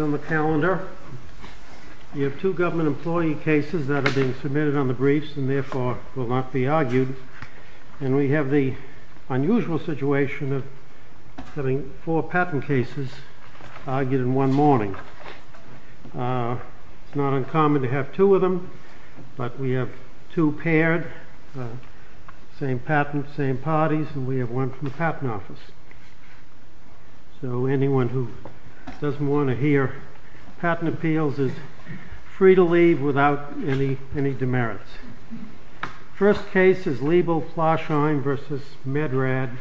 On the calendar, you have two government employee cases that are being submitted on the briefs and therefore will not be argued. And we have the unusual situation of having four patent cases argued in one morning. It's not uncommon to have two of them, but we have two paired, same patent, same parties, and we have one from the patent office. So anyone who doesn't want to hear patent appeals is free to leave without any demerits. First case is Liebel-Flarsheim v. Medrad,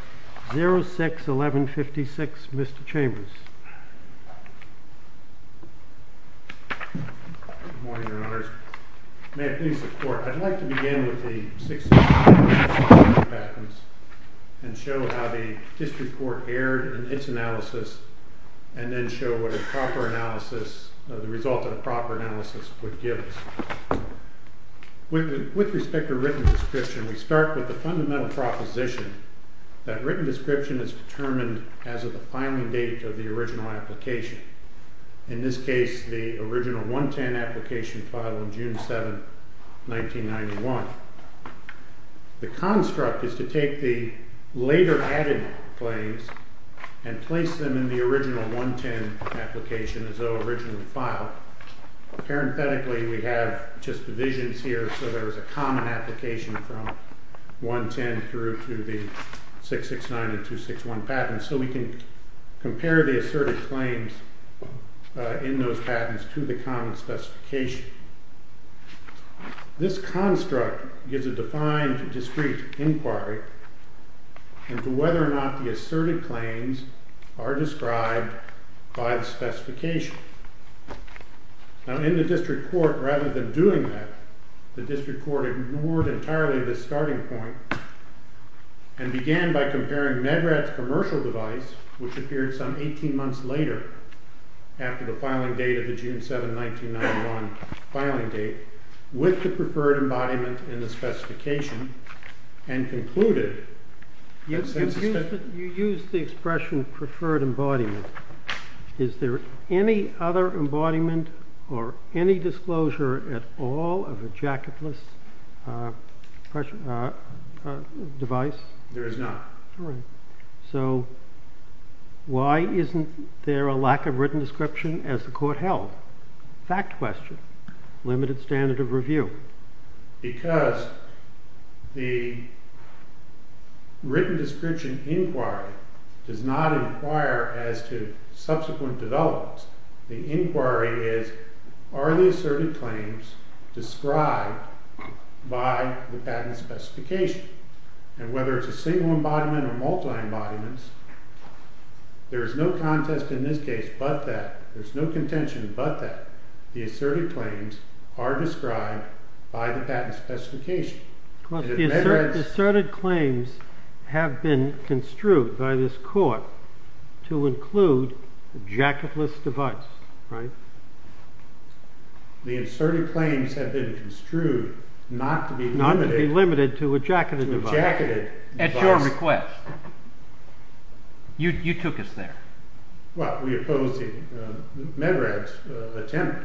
06-1156, Mr. Chambers. Good morning, Your Honors. May it please the Court, I'd like to begin with the 06-1156 patent and show how the district court erred in its analysis and then show what a proper analysis, the result of a proper analysis would give us. With respect to written description, we start with the fundamental proposition that written description is determined as of the filing date of the original application. In this case, the original 110 application filed on June 7, 1991. The construct is to take the later added claims and place them in the original 110 application as though originally filed. Parenthetically, we have just divisions here, so there is a common application from 110 through to the 669 and 261 patents, so we can compare the asserted claims in those patents to the common specification. This construct gives a defined, discrete inquiry into whether or not the asserted claims are described by the specification. Now, in the district court, rather than doing that, the district court ignored entirely this starting point and began by comparing Medrad's commercial device, which appeared some 18 months later, after the filing date of the June 7, 1991 filing date, with the preferred embodiment in the specification, and concluded... You used the expression preferred embodiment. Is there any other embodiment or any disclosure at all of a jacketless device? There is not. So, why isn't there a lack of written description as the court held? Fact question. Limited standard of review. Because the written description inquiry does not inquire as to subsequent developments. The inquiry is are the asserted claims described by the patent specification? And whether it's a single embodiment or multiple embodiments, there is no contest in this case but that, there is no contention but that, the asserted claims are described by the patent specification. But the asserted claims have been construed by this court to include the jacketless device, right? The asserted claims have been construed not to be limited to a jacketed device. At your request. You took us there. Well, we opposed Medrad's attempt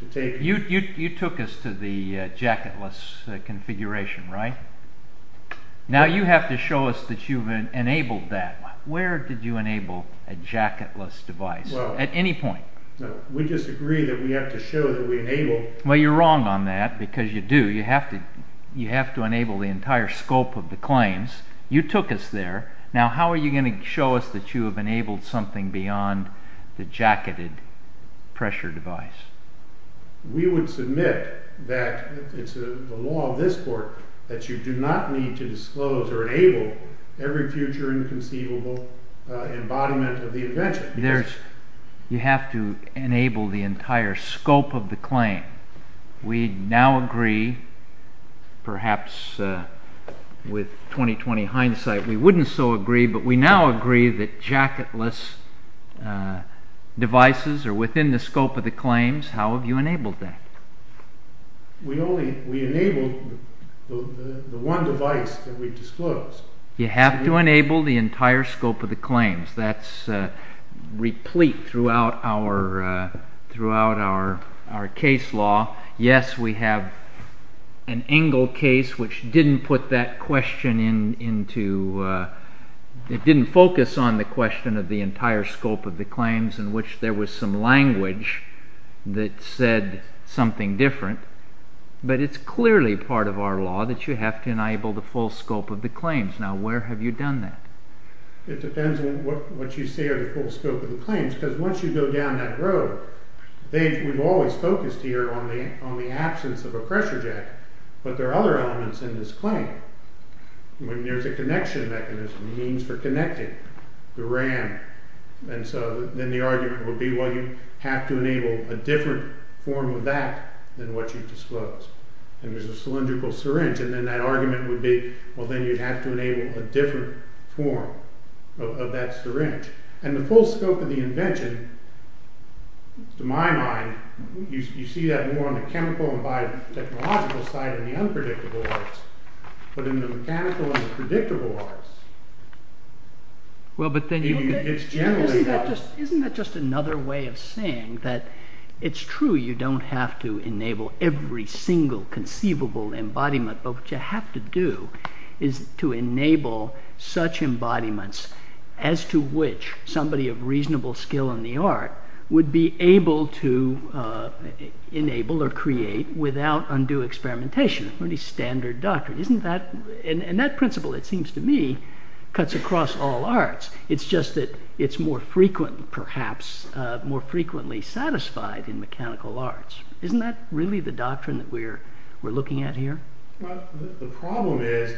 to take... You took us to the jacketless configuration, right? Now you have to show us that you've enabled that. Where did you enable a jacketless device at any point? We disagree that we have to show that we enabled... Well, you're wrong on that because you do. You have to enable the entire scope of the claims. You took us there. Now how are you going to show us that you have enabled something beyond the jacketed pressure device? We would submit that it's the law of this court that you do not need to disclose or enable every future inconceivable embodiment of the invention. You have to enable the entire scope of the claim. We now agree, perhaps with 20-20 hindsight we wouldn't so agree, but we now agree that jacketless devices are within the scope of the claims. How have you enabled that? We enabled the one device that we disclosed. You have to enable the entire scope of the claims. That's replete throughout our case law. Yes, we have an Engel case which didn't focus on the question of the entire scope of the claims in which there was some language that said something different. But it's clearly part of our law that you have to enable the full scope of the claims. Now where have you done that? It depends on what you say are the full scope of the claims because once you go down that road, we've always focused here on the absence of a pressure jack, but there are other elements in this claim. When there's a connection mechanism, means for connecting, the RAM, then the argument would be well you have to enable a different form of that than what you've disclosed. And there's a cylindrical syringe and then that argument would be well then you'd have to enable a different form of that syringe. And the full scope of the invention, to my mind, you see that more on the chemical and biotechnological side in the unpredictable arts, but in the mechanical and predictable arts, it's generally not. Isn't that just another way of saying that it's true you don't have to enable every single conceivable embodiment, but what you have to do is to enable such embodiments as to which somebody of reasonable skill in the art would be able to enable or create without undue experimentation. Pretty standard doctrine. And that principle, it seems to me, cuts across all arts. It's just that it's more frequent, perhaps, more frequently satisfied in mechanical arts. Isn't that really the doctrine that we're looking at here? Well, the problem is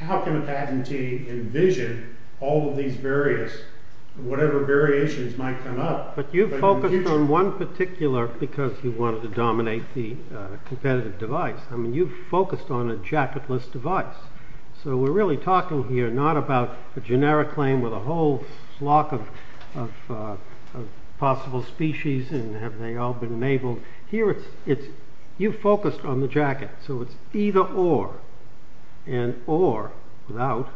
how can a patentee envision all of these various, whatever variations might come up. But you've focused on one particular because you wanted to dominate the competitive device. I mean you've focused on a jacketless device. So we're really talking here not about a generic claim with a whole flock of possible species and have they all been enabled. Here it's you focused on the jacket. So it's either or. And or, without,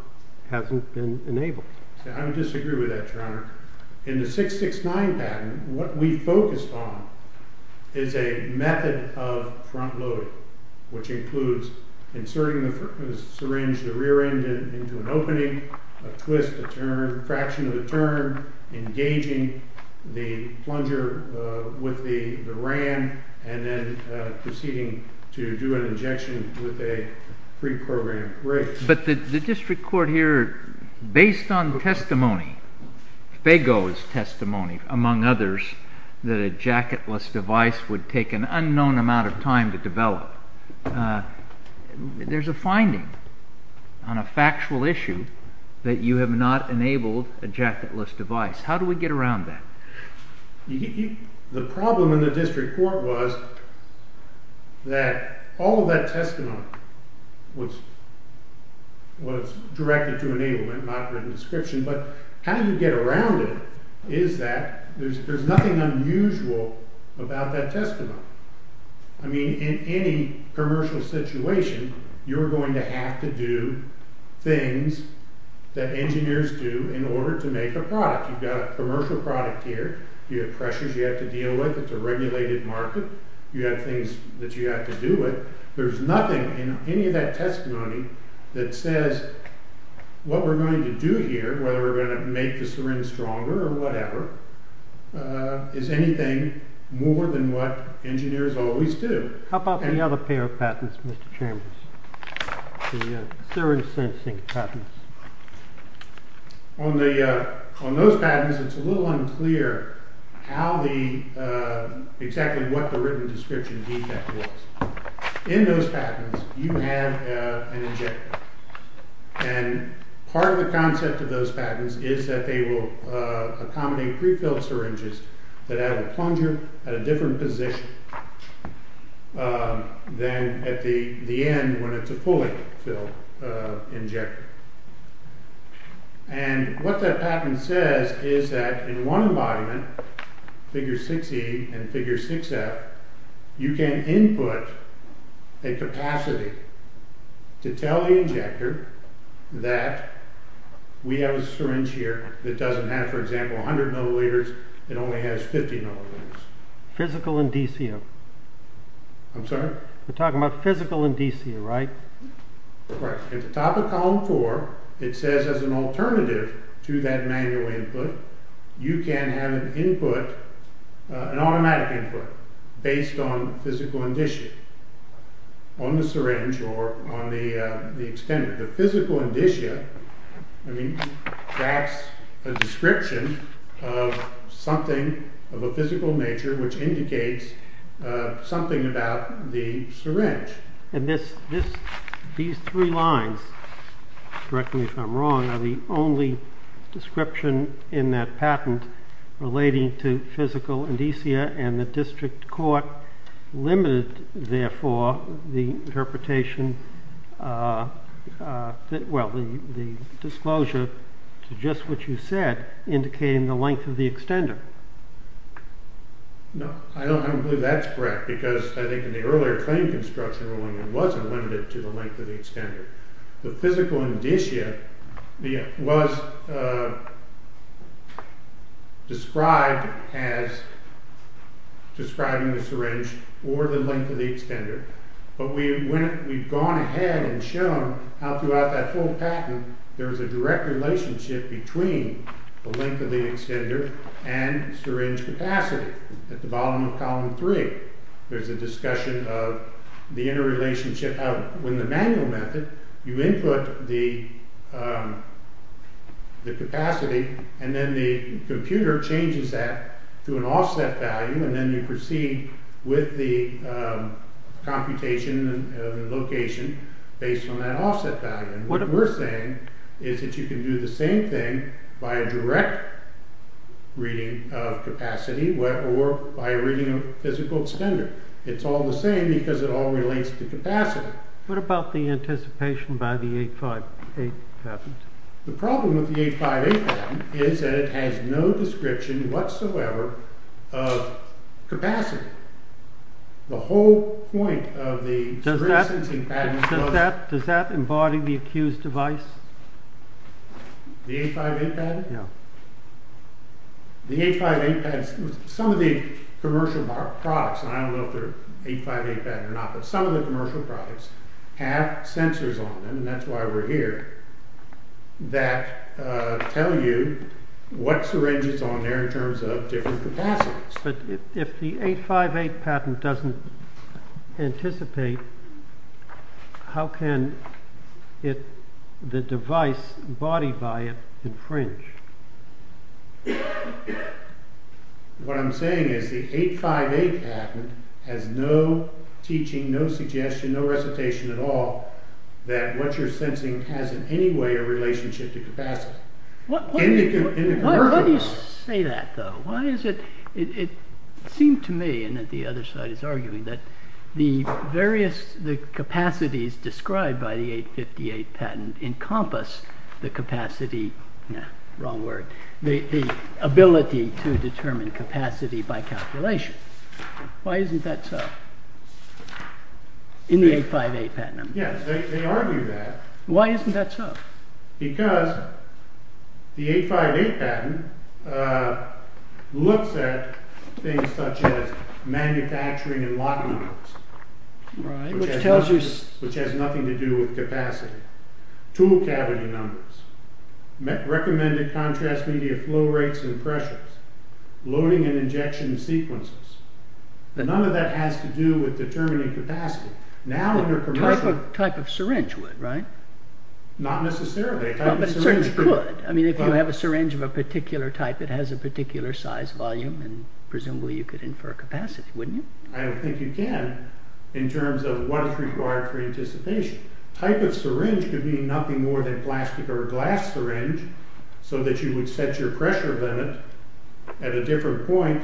hasn't been enabled. I would disagree with that, Your Honor. In the 669 patent, what we focused on is a method of front load, which includes inserting the syringe, the rear end into an opening, a twist, a turn, a fraction of a turn, engaging the plunger with the ram, and then proceeding to do an injection with a pre-programmed rig. But the district court here, based on testimony, Faygo's testimony, among others, that a jacketless device would take an unknown amount of time to develop, there's a finding on a factual issue that you have not enabled a jacketless device. How do we get around that? The problem in the district court was that all of that testimony was directed to enablement, not written description, but how do you get around it is that there's nothing unusual about that testimony. I mean, in any commercial situation, you're going to have to do things that engineers do in order to make a product. You've got a commercial product here, you have pressures you have to deal with, it's a regulated market, you have things that you have to do with, there's nothing in any of that testimony that says what we're going to do here, whether we're going to make the syringe stronger or whatever, is anything more than what engineers always do. How about the other pair of patents, Mr. Chambers, the syringe sensing patents? On those patents, it's a little unclear exactly what the written description defect was. In those patents, you have an injector, and part of the concept of those patents is that they will accommodate prefilled syringes that have a plunger at a different position than at the end when it's a fully filled injector. And what that patent says is that in one embodiment, figure 6E and figure 6F, you can input a capacity to tell the injector that we have a syringe here that doesn't have, for example, 100 milliliters, it only has 50 milliliters. Physical indicia. I'm sorry? We're talking about physical indicia, right? At the top of column 4, it says as an alternative to that manual input, you can have an automatic input based on physical indicia on the syringe or on the extender. The physical indicia, that's a description of something of a physical nature which indicates something about the syringe. These three lines, correct me if I'm wrong, are the only description in that patent relating to physical indicia, and the district court limited, therefore, the interpretation, well, the disclosure to just what you said, indicating the length of the extender. No, I don't believe that's correct, because I think in the earlier claim construction ruling, it wasn't limited to the length of the extender. The physical indicia was described as describing the syringe or the length of the extender, but we've gone ahead and shown how throughout that whole patent, there's a direct relationship between the length of the extender and syringe capacity. At the bottom of column 3, there's a discussion of the interrelationship of when the manual method, you input the capacity, and then the computer changes that to an offset value, and then you proceed with the computation and location based on that offset value. What we're saying is that you can do the same thing by a direct reading of capacity or by reading a physical extender. It's all the same because it all relates to capacity. What about the anticipation by the 858 patent? The problem with the 858 patent is that it has no description whatsoever of capacity. The whole point of the syringe-sensing patent… Does that embody the accused device? The 858 patent? Yeah. Some of the commercial products, and I don't know if they're 858 patent or not, but some of the commercial products have sensors on them, and that's why we're here, that tell you what syringe is on there in terms of different capacities. But if the 858 patent doesn't anticipate, how can the device embodied by it infringe? What I'm saying is the 858 patent has no teaching, no suggestion, no recitation at all that what you're sensing has in any way a relationship to capacity. Why do you say that, though? It seemed to me, and the other side is arguing, that the various capacities described by the 858 patent encompass the capacity… Wrong word. The ability to determine capacity by calculation. Why isn't that so? In the 858 patent? Yes, they argue that. Why isn't that so? Because the 858 patent looks at things such as manufacturing and locking numbers, which has nothing to do with capacity. Tool cavity numbers. Recommended contrast media flow rates and pressures. Loading and injection sequences. None of that has to do with determining capacity. A typical type of syringe would, right? Not necessarily. But a syringe could. I mean, if you have a syringe of a particular type, it has a particular size, volume, and presumably you could infer capacity, wouldn't you? I don't think you can in terms of what is required for anticipation. A type of syringe could mean nothing more than a plastic or glass syringe so that you would set your pressure limit at a different point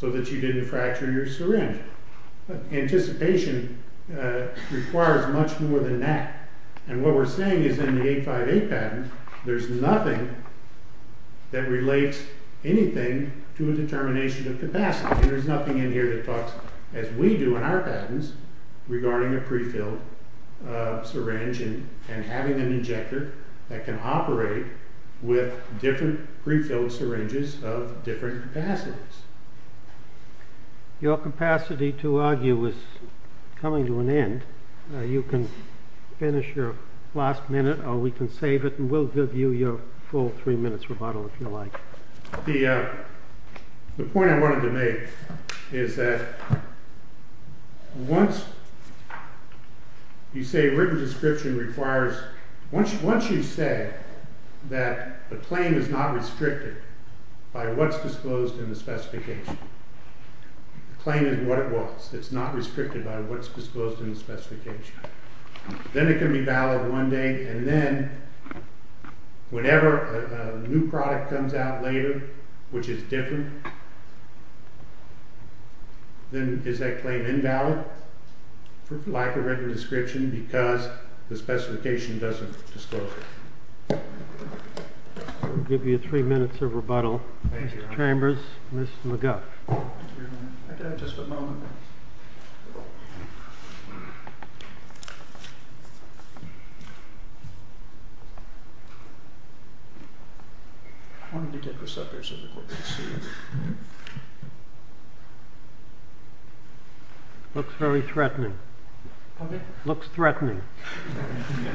so that you didn't fracture your syringe. Anticipation requires much more than that. And what we're saying is in the 858 patent, there's nothing that relates anything to a determination of capacity. There's nothing in here that talks as we do in our patents regarding a prefilled syringe and having an injector that can operate with different prefilled syringes of different capacities. Your capacity to argue is coming to an end. You can finish your last minute or we can save it and we'll give you your full three minutes rebuttal if you like. The point I wanted to make is that once you say written description requires, once you say that the claim is not restricted by what's disclosed in the specification, the claim is what it was, it's not restricted by what's disclosed in the specification, then it can be valid one day and then whenever a new product comes out later, which is different, then is that claim invalid like a written description because the specification doesn't disclose it. I'll give you three minutes of rebuttal. Thank you. Mr. Chambers, Ms. McGuff. I could have just a moment. I wanted to get this up here so the court could see it. Looks very threatening. Okay. Looks threatening.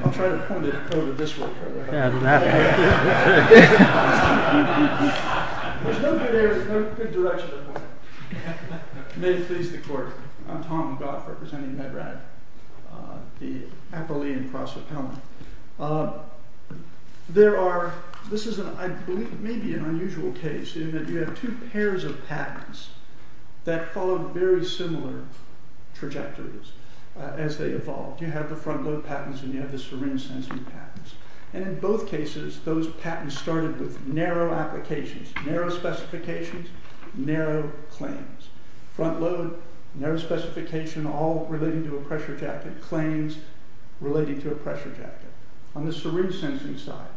I'll try to point it over this way. Yeah, that way. There's no good direction to point it. May it please the court, I'm Tom McGuff representing MedRat. The Appalachian Cross Appellant. There are, this is maybe an unusual case in that you have two pairs of patents that follow very similar trajectories as they evolve. You have the front load patents and you have the syringe sensing patents. And in both cases, those patents started with narrow applications, narrow specifications, narrow claims. Front load, narrow specification, all relating to a pressure jacket, claims relating to a pressure jacket. On the syringe sensing side,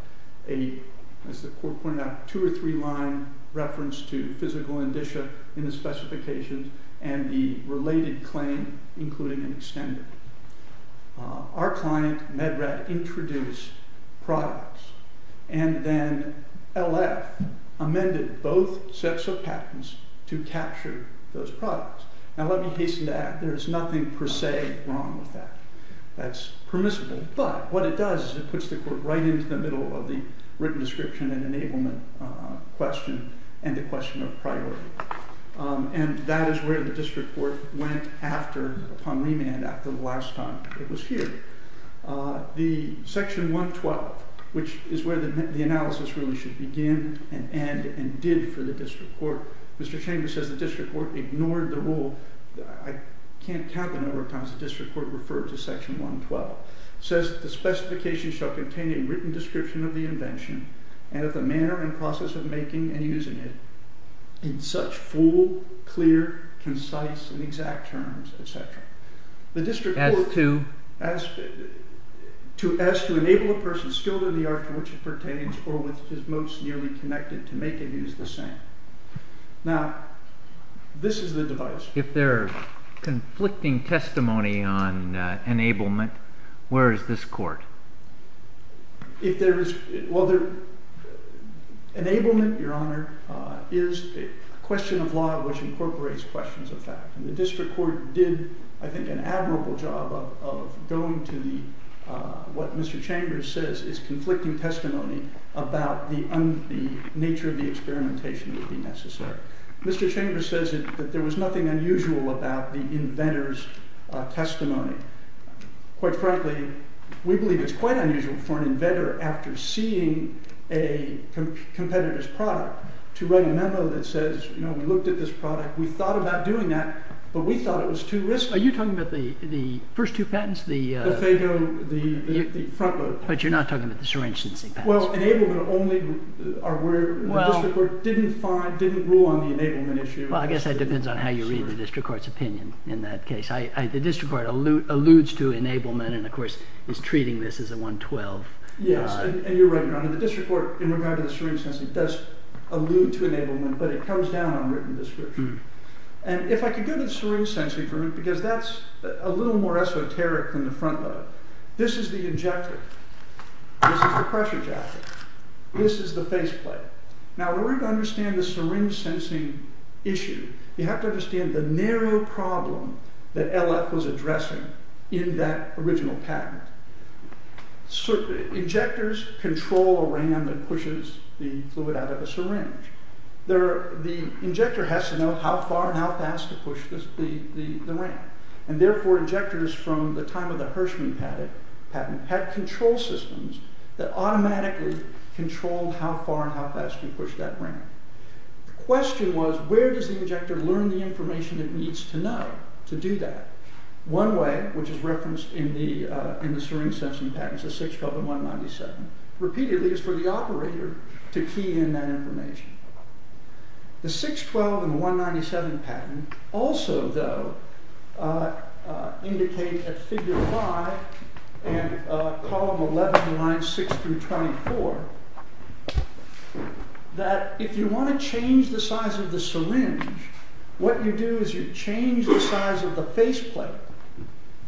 as the court pointed out, two or three line reference to physical indicia in the specifications and the related claim, including an extender. Our client, MedRat, introduced products and then LF amended both sets of patents to capture those products. Now let me hasten to add, there is nothing per se wrong with that. That's permissible, but what it does is it puts the court right into the middle of the written description and enablement question and the question of priority. And that is where the district court went after, upon remand after the last time it was here. The section 112, which is where the analysis really should begin and end and did for the district court. Mr. Chambers says the district court ignored the rule. I can't count the number of times the district court referred to section 112. It says the specification shall contain a written description of the invention and of the manner and process of making and using it in such full, clear, concise and exact terms, etc. The district court asked to enable a person skilled in the art to which it pertains or with which it is most nearly connected to make and use the same. Now, this is the device. If there are conflicting testimony on enablement, where is this court? Enablement, Your Honor, is a question of law which incorporates questions of fact. And the district court did, I think, an admirable job of going to what Mr. Chambers says is conflicting testimony about the nature of the experimentation that would be necessary. Mr. Chambers says that there was nothing unusual about the inventor's testimony. Quite frankly, we believe it's quite unusual for an inventor, after seeing a competitor's product, to write a memo that says, you know, we looked at this product, we thought about doing that, but we thought it was too risky. Are you talking about the first two patents? The Faygo, the front load. But you're not talking about the syringe-sensing patents. Well, enablement only, the district court didn't rule on the enablement issue. Well, I guess that depends on how you read the district court's opinion in that case. The district court alludes to enablement and, of course, is treating this as a 112. Yes, and you're right, Your Honor. The district court, in regard to the syringe-sensing, does allude to enablement, but it comes down on written description. And if I could go to the syringe-sensing for a minute, because that's a little more esoteric than the front load. This is the injector. This is the pressure jacket. This is the faceplate. Now, in order to understand the syringe-sensing issue, you have to understand the narrow problem that LF was addressing in that original patent. Injectors control a ram that pushes the fluid out of a syringe. The injector has to know how far and how fast to push the ram. And, therefore, injectors from the time of the Hirschman patent had control systems that automatically controlled how far and how fast you pushed that ram. The question was, where does the injector learn the information it needs to know to do that? One way, which is referenced in the syringe-sensing patent, is the 612 and 197. Repeatedly, it's for the operator to key in that information. The 612 and 197 patent also, though, indicate at figure 5 and column 11, lines 6 through 24, that if you want to change the size of the syringe, what you do is you change the size of the faceplate,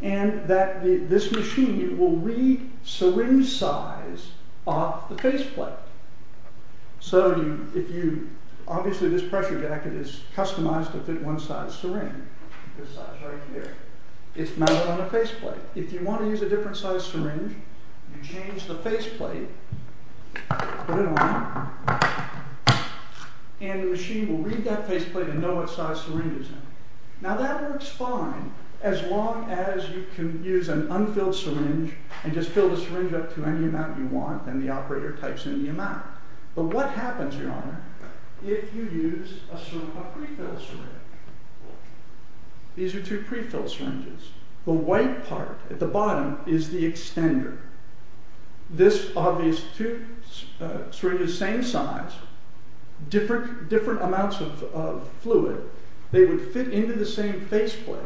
and that this machine will read syringe size off the faceplate. Obviously, this pressure jacket is customized to fit one size syringe. This size right here. It's mounted on a faceplate. If you want to use a different size syringe, you change the faceplate, put it on, and the machine will read that faceplate and know what size syringe it's in. Now, that works fine as long as you can use an unfilled syringe and just fill the syringe up to any amount you want, and the operator types in the amount. But what happens, Your Honor, if you use a prefilled syringe? These are two prefilled syringes. The white part at the bottom is the extender. These are two syringes the same size, different amounts of fluid. They would fit into the same faceplate,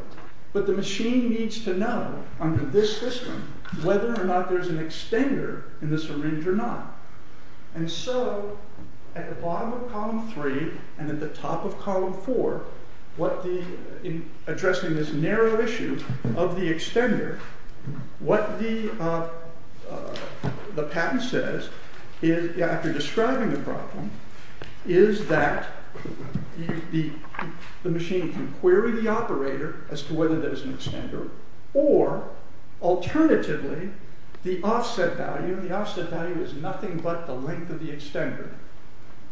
but the machine needs to know, under this system, whether or not there's an extender in the syringe or not. And so, at the bottom of column 3 and at the top of column 4, addressing this narrow issue of the extender, what the patent says, after describing the problem, is that the machine can query the operator as to whether there's an extender, or, alternatively, the offset value, the offset value is nothing but the length of the extender.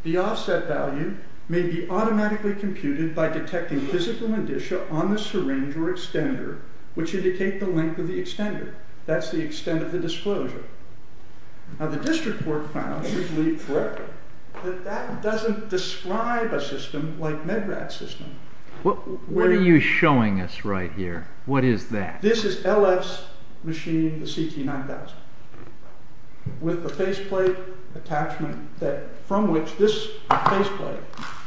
The offset value may be automatically computed by detecting physical indicia on the syringe or extender, which indicate the length of the extender. That's the extent of the disclosure. Now, the district court found, we believe, correct, that that doesn't describe a system like MedRat's system. What are you showing us right here? What is that? This is LF's machine, the CT9000, with a faceplate attachment from which this faceplate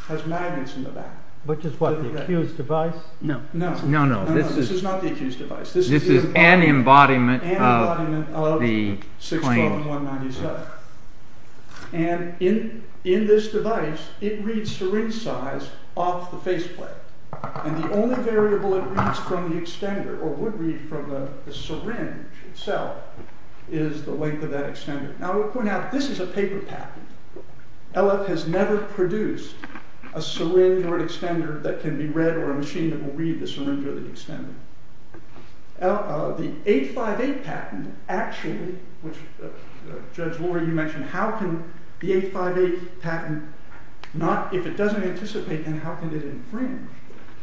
has magnets in the back. Which is what, the accused device? No, no, no, this is not the accused device. This is an embodiment of the claim. And in this device, it reads syringe size off the faceplate. And the only variable it reads from the extender, or would read from the syringe itself, is the length of that extender. Now, we'll point out, this is a paper patent. LF has never produced a syringe or an extender that can be read, or a machine that will read the syringe or the extender. The 858 patent, actually, which Judge Lori, you mentioned, how can the 858 patent, if it doesn't anticipate, how can it infringe?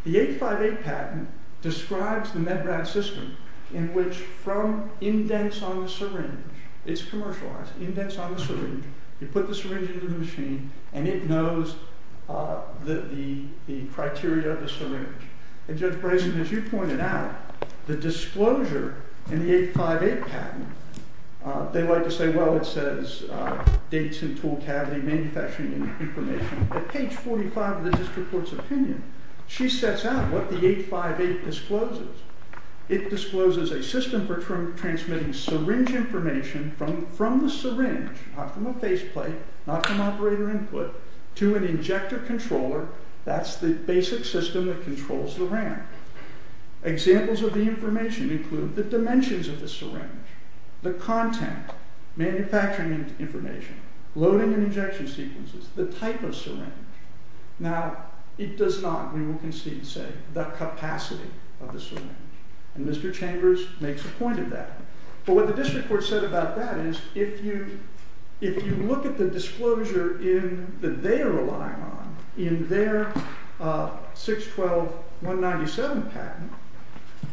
The 858 patent describes the MedRat system in which, from indents on the syringe, it's commercialized, indents on the syringe, you put the syringe into the machine, and it knows the criteria of the syringe. And Judge Brazen, as you pointed out, the disclosure in the 858 patent, they like to say, well, it says, dates and tool cavity, manufacturing information. At page 45 of the district court's opinion, she sets out what the 858 discloses. It discloses a system for transmitting syringe information from the syringe, not from a faceplate, not from operator input, to an injector controller. That's the basic system that controls the ramp. Examples of the information include the dimensions of the syringe, the content, manufacturing information, loading and injection sequences, the type of syringe. Now, it does not, we will concede, say, the capacity of the syringe. And Mr. Chambers makes a point of that. But what the district court said about that is, if you look at the disclosure that they are relying on in their 612-197 patent,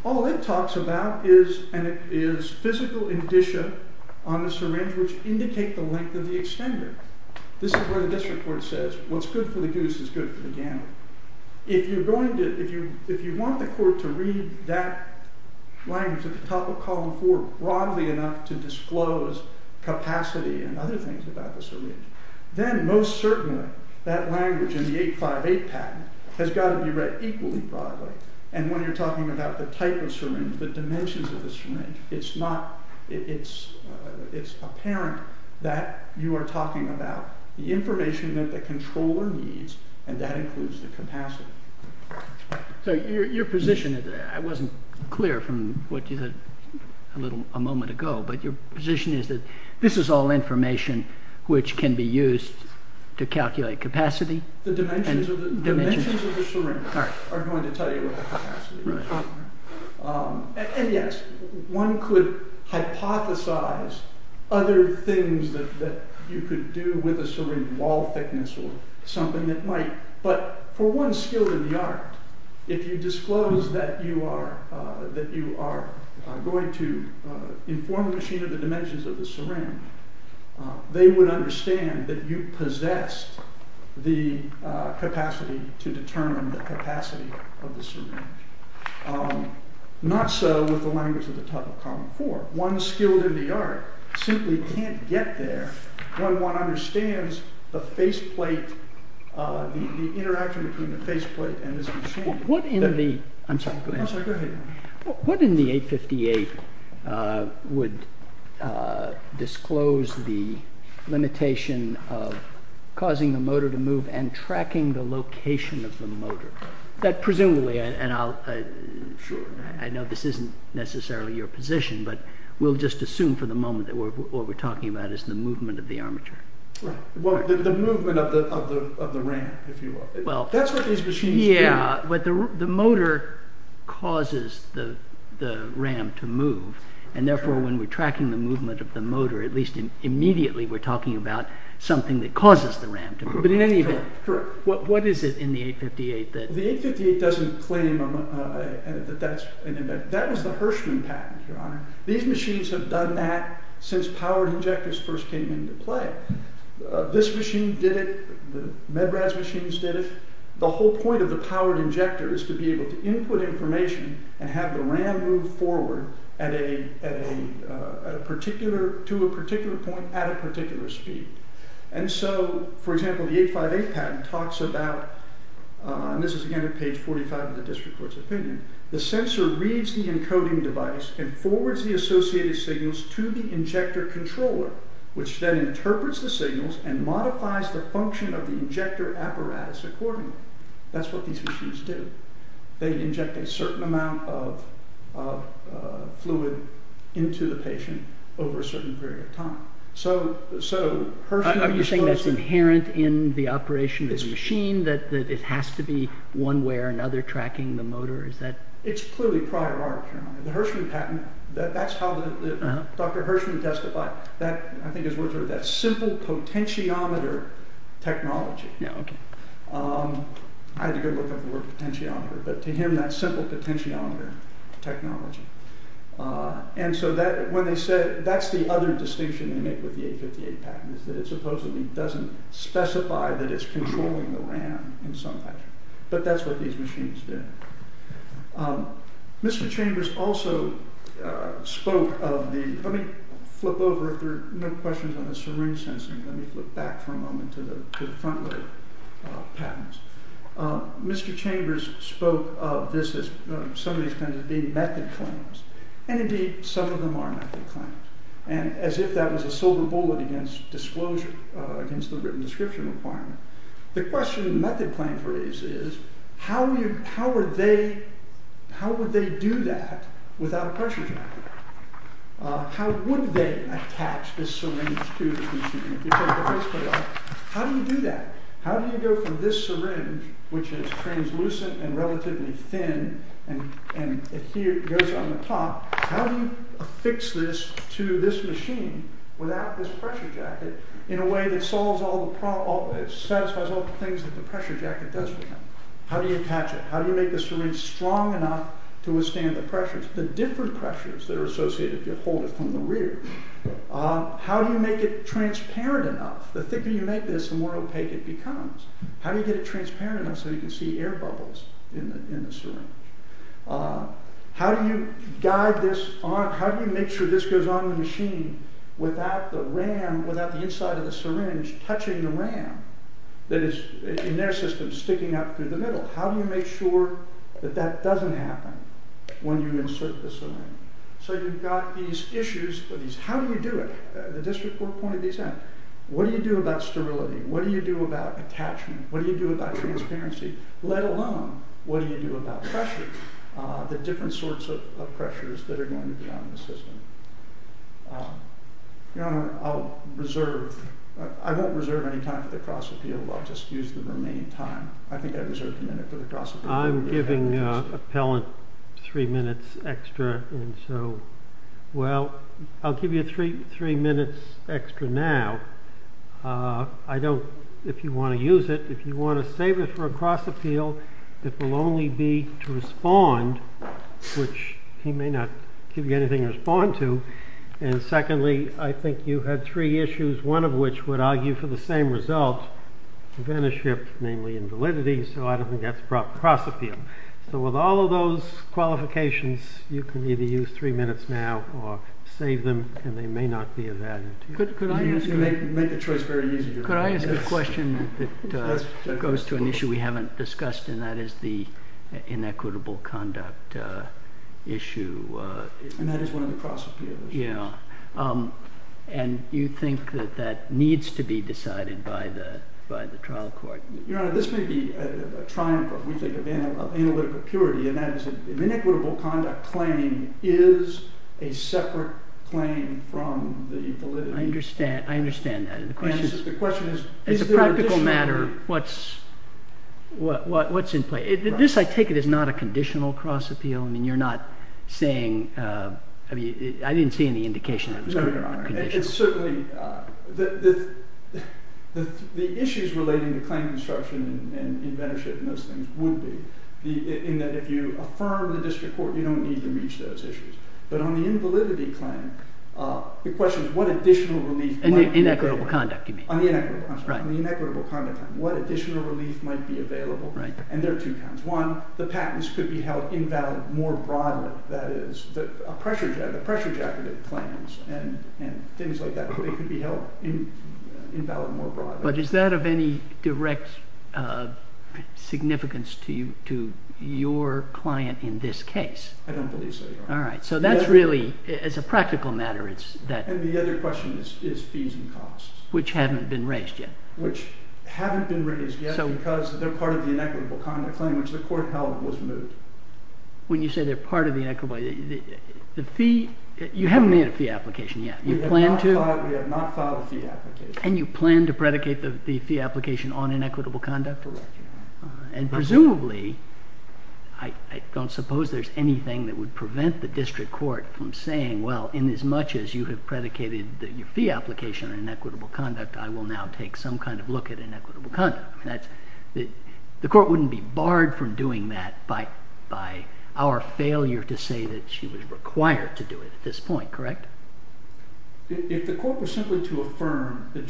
all it talks about is physical indicia on the syringe which indicate the length of the extender. This is where the district court says, what's good for the goose is good for the gammon. If you want the court to read that language at the top of column 4 broadly enough to disclose capacity and other things about the syringe, then most certainly that language in the 858 patent has got to be read equally broadly. And when you're talking about the type of syringe, the dimensions of the syringe, it's apparent that you are talking about the information that the controller needs, and that includes the capacity. So your position, I wasn't clear from what you said a moment ago, but your position is that this is all information which can be used to calculate capacity? The dimensions of the syringe are going to tell you what the capacity is. And yes, one could hypothesize other things that you could do with a syringe, wall thickness or something that might, but for one skill in the art, if you disclose that you are going to inform the machine of the dimensions of the syringe, they would understand that you possess the capacity to determine the capacity of the syringe. Not so with the language at the top of column 4. One skilled in the art simply can't get there when one understands the faceplate, the interaction between the faceplate and this machine. What in the 858 would disclose the limitation of causing the motor to move and tracking the location of the motor? Presumably, and I know this isn't necessarily your position, but we'll just assume for the moment that what we're talking about is the movement of the armature. The movement of the ram, if you will. That's what these machines do. Yeah, but the motor causes the ram to move, and therefore when we're tracking the movement of the motor, at least immediately we're talking about something that causes the ram to move. But in any event, what is it in the 858 that... The 858 doesn't claim that that's... that was the Hirschman patent, Your Honor. These machines have done that since powered injectors first came into play. This machine did it. The MedRads machines did it. The whole point of the powered injector is to be able to input information and have the ram move forward at a particular... to a particular point at a particular speed. And so, for example, the 858 patent talks about, and this is again at page 45 of the district court's opinion, the sensor reads the encoding device and forwards the associated signals to the injector controller, which then interprets the signals and modifies the function of the injector apparatus accordingly. That's what these machines do. They inject a certain amount of fluid into the patient over a certain period of time. So, Hirschman... Are you saying that's inherent in the operation of the machine, that it has to be one way or another tracking the motor? It's clearly prior art, Your Honor. The Hirschman patent, that's how the... Dr. Hirschman testified. I think his words were, that's simple potentiometer technology. Yeah, okay. I had to go look up the word potentiometer, but to him that's simple potentiometer technology. And so that, when they said, that's the other distinction they make with the 858 patent, is that it supposedly doesn't specify that it's controlling the RAM in some way. But that's what these machines did. Mr. Chambers also spoke of the... Let me flip over, if there are no questions on the syringe sensing, let me flip back for a moment to the front load patents. Mr. Chambers spoke of this as, some of these patents as being method claims. And indeed, some of them are method claims. And as if that was a silver bullet against disclosure, against the written description requirement. The question in the method claim phrase is, how would they do that without a pressure trap? How would they attach this syringe to the machine? How do you do that? How do you go from this syringe, which is translucent and relatively thin, and it goes on the top, how do you affix this to this machine, without this pressure jacket, in a way that satisfies all the things that the pressure jacket does for them? How do you attach it? How do you make the syringe strong enough to withstand the pressures? The different pressures that are associated if you hold it from the rear. How do you make it transparent enough? The thicker you make this, the more opaque it becomes. How do you get it transparent enough so you can see air bubbles in the syringe? How do you guide this on? How do you make sure this goes on the machine without the ram, without the inside of the syringe touching the ram, that is, in their system, sticking out through the middle? How do you make sure that that doesn't happen when you insert the syringe? So you've got these issues. How do you do it? The district court pointed these out. What do you do about sterility? What do you do about attachment? What do you do about transparency? Let alone, what do you do about pressure, the different sorts of pressures that are going to be on the system? Your Honor, I'll reserve. I won't reserve any time for the cross appeal. I'll just use the remaining time. I think I reserved a minute for the cross appeal. I'm giving the appellant three minutes extra. And so, well, I'll give you three minutes extra now. I don't, if you want to use it, if you want to save it for a cross appeal, it will only be to respond, which he may not give you anything to respond to. And secondly, I think you had three issues, one of which would argue for the same result, advantage ship, namely invalidity, so I don't think that's the proper cross appeal. So with all of those qualifications, you can either use three minutes now or save them, and they may not be of value to you. You make the choice very easy. Could I ask a question that goes to an issue we haven't discussed, and that is the inequitable conduct issue? And that is one of the cross appeals. Yeah. And you think that that needs to be decided by the trial court? Your Honor, this may be a triumph, if we think of analytical purity, and that is an inequitable conduct claim is a separate claim from the validity. I understand that. And the question is... It's a practical matter what's in play. This, I take it, is not a conditional cross appeal. I mean, you're not saying... I mean, I didn't see any indication that it was... No, Your Honor, it's certainly... The issues relating to claim construction and advantage ship and those things would be in that if you affirm the district court, you don't need to reach those issues. But on the invalidity claim, the question is what additional relief... Inequitable conduct, you mean. On the inequitable conduct claim, what additional relief might be available? And there are two kinds. One, the patents could be held invalid more broadly. That is, a pressure jacket of claims and things like that could be held invalid more broadly. But is that of any direct significance to your client in this case? I don't believe so, Your Honor. All right. So that's really... It's a practical matter. And the other question is fees and costs. Which haven't been raised yet. Which haven't been raised yet because they're part of the inequitable conduct claim which the court held was removed. When you say they're part of the inequitable... The fee... You haven't made a fee application yet. You plan to? We have not filed a fee application. And you plan to predicate the fee application on inequitable conduct? Correct, Your Honor. And presumably, I don't suppose there's anything that would prevent the district court from saying, well, inasmuch as you have predicated your fee application on inequitable conduct, I will now take some kind of look at inequitable conduct. The court wouldn't be barred from doing that by our failure to say that she was required to do it at this point, correct? If the court was simply to affirm that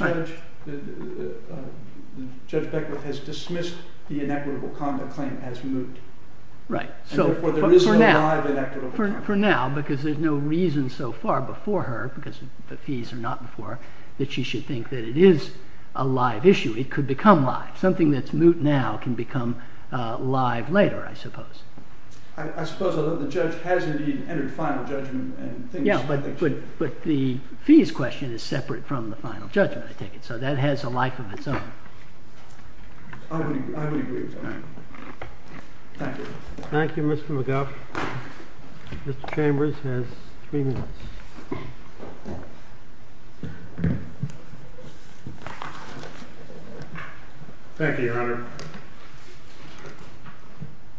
Judge Beckwith has dismissed the inequitable conduct claim as moot. Right. For now, because there's no reason so far before her, because the fees are not before her, that she should think that it is a live issue. It could become live. Something that's moot now can become live later, I suppose. I suppose the judge has indeed entered final judgment. Yeah, but the fees question is separate from the final judgment, I take it. So that has a life of its own. I would agree with that. Thank you. Thank you, Mr. McGuff. Mr. Chambers has three minutes. Thank you, Your Honor.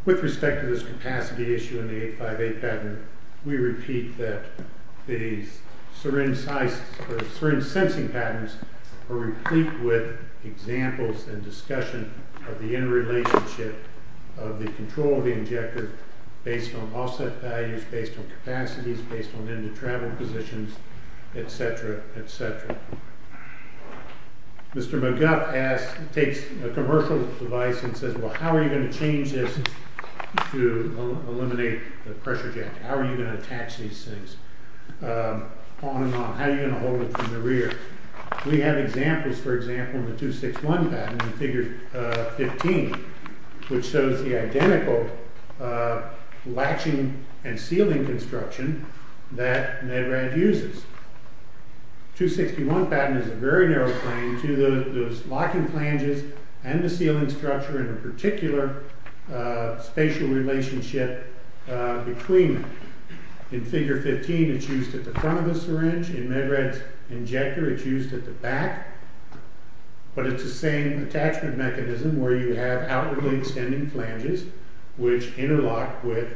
With respect to this capacity issue in the 858 pattern, we repeat that the syringe sensing patterns are replete with examples and discussion of the interrelationship of the control of the injector based on offset values, based on capacities, based on end-to-travel positions, et cetera, et cetera. Mr. McGuff takes a commercial device and says, well, how are you going to change this to eliminate the pressure jet? How are you going to attach these things on and on? How are you going to hold it from the rear? We have examples, for example, in the 261 pattern, in figure 15, which shows the identical latching and sealing construction that Nedrad uses. 261 pattern is a very narrow claim to those locking flanges and the sealing structure in a particular spatial relationship between them. In figure 15, it's used at the front of the syringe. In Nedrad's injector, it's used at the back. But it's the same attachment mechanism where you have outwardly extending flanges which interlock with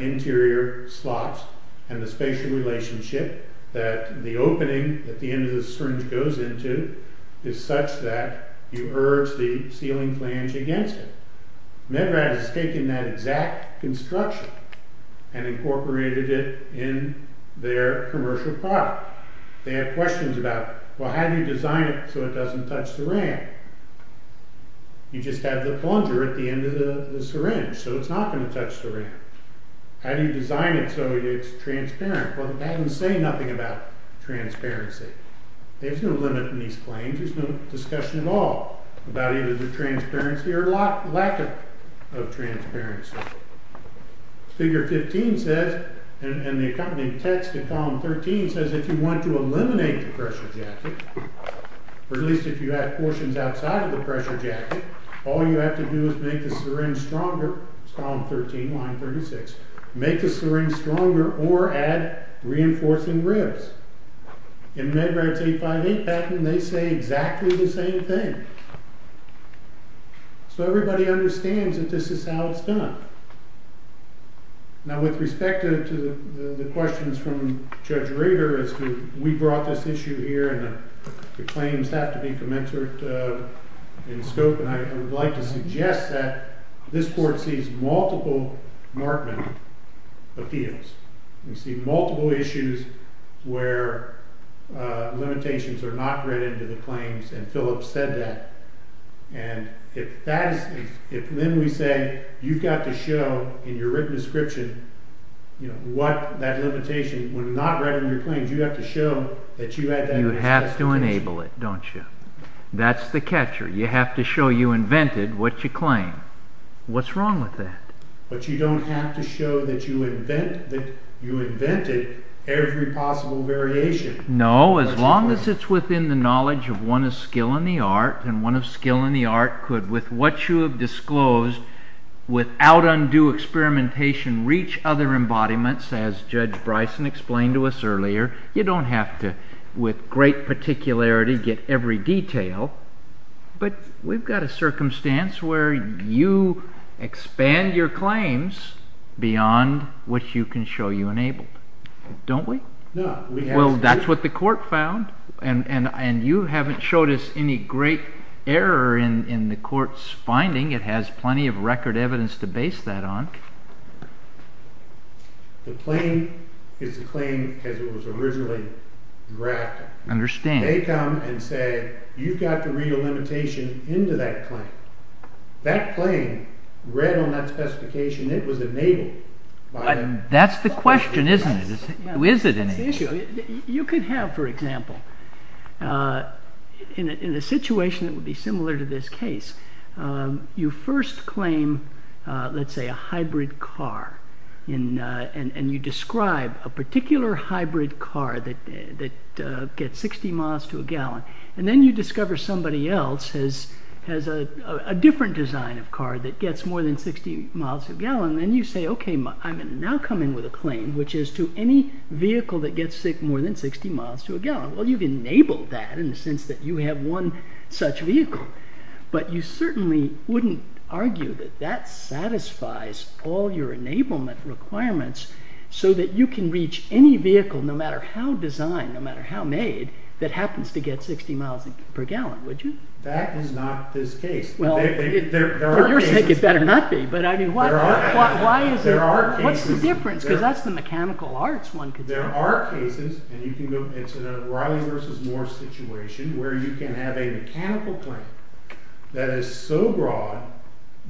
interior slots and the spatial relationship that the opening at the end of the syringe goes into is such that you urge the sealing flange against it. Nedrad has taken that exact construction and incorporated it in their commercial product. They had questions about, well, how do you design it so it doesn't touch the ram? You just have the plunger at the end of the syringe, so it's not going to touch the ram. How do you design it so it's transparent? Well, the patterns say nothing about transparency. There's no limit in these claims. There's no discussion at all about either the transparency or lack of transparency. Figure 15 says, and the accompanying text in column 13 says if you want to eliminate the pressure jacket, or at least if you add portions outside of the pressure jacket, all you have to do is make the syringe stronger. It's column 13, line 36. Make the syringe stronger or add reinforcing ribs. In Nedrad's 858 patent, they say exactly the same thing. So everybody understands that this is how it's done. Now, with respect to the questions from Judge Rader, as we brought this issue here and the claims have to be commensurate in scope, I would like to suggest that this court sees multiple Markman appeals. We see multiple issues where limitations are not read into the claims, and Philip said that. And if then we say you've got to show in your written description what that limitation, when not read in your claims, you have to show that you had that in the test case. You have to enable it, don't you? That's the catcher. You have to show you invented what you claim. What's wrong with that? But you don't have to show that you invented every possible variation. No, as long as it's within the knowledge of one of skill in the art, and one of skill in the art could, with what you have disclosed, without undue experimentation, reach other embodiments, as Judge Bryson explained to us earlier. You don't have to, with great particularity, get every detail. But we've got a circumstance where you expand your claims beyond what you can show you enabled. Don't we? No. Well, that's what the court found, and you haven't showed us any great error in the court's finding. It has plenty of record evidence to base that on. The claim is a claim as it was originally drafted. I understand. They come and say, you've got to read a limitation into that claim. That claim, read on that specification, it was enabled. That's the question, isn't it? Who is it in it? You could have, for example, in a situation that would be similar to this case, you first claim, let's say, a hybrid car, and you describe a particular hybrid car that gets 60 miles to a gallon, and then you discover somebody else has a different design of car that gets more than 60 miles to a gallon, and then you say, okay, I'm going to now come in with a claim which is to any vehicle that gets more than 60 miles to a gallon. Well, you've enabled that in the sense that you have one such vehicle, but you certainly wouldn't argue that that satisfies all your enablement requirements so that you can reach any vehicle, no matter how designed, no matter how made, that happens to get 60 miles per gallon, would you? That is not this case. Well, for your sake, it better not be. But I mean, what's the difference? Because that's the mechanical arts one could say. There are cases, and it's a Raleigh versus Moore situation, where you can have a mechanical claim that is so broad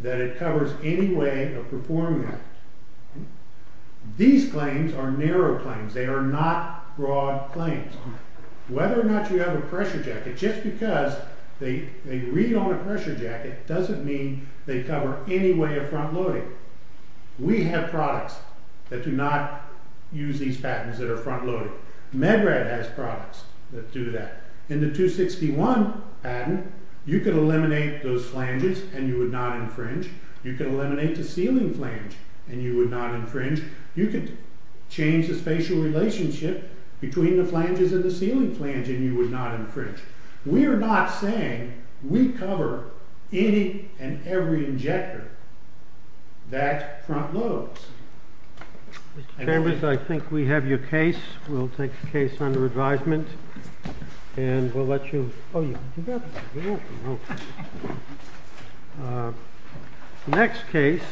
that it covers any way of performing that. These claims are narrow claims. They are not broad claims. Whether or not you have a pressure jacket, just because they read on a pressure jacket doesn't mean they cover any way of front-loading. We have products that do not use these patents that are front-loaded. Medrad has products that do that. In the 261 patent, you could eliminate those flanges, and you would not infringe. You could eliminate the ceiling flange, and you would not infringe. You could change the spatial relationship between the flanges and the ceiling flange, and you would not infringe. We are not saying we cover any and every injector that front-loads. Mr. Chambers, I think we have your case. We'll take the case under advisement. And we'll let you go. Next case.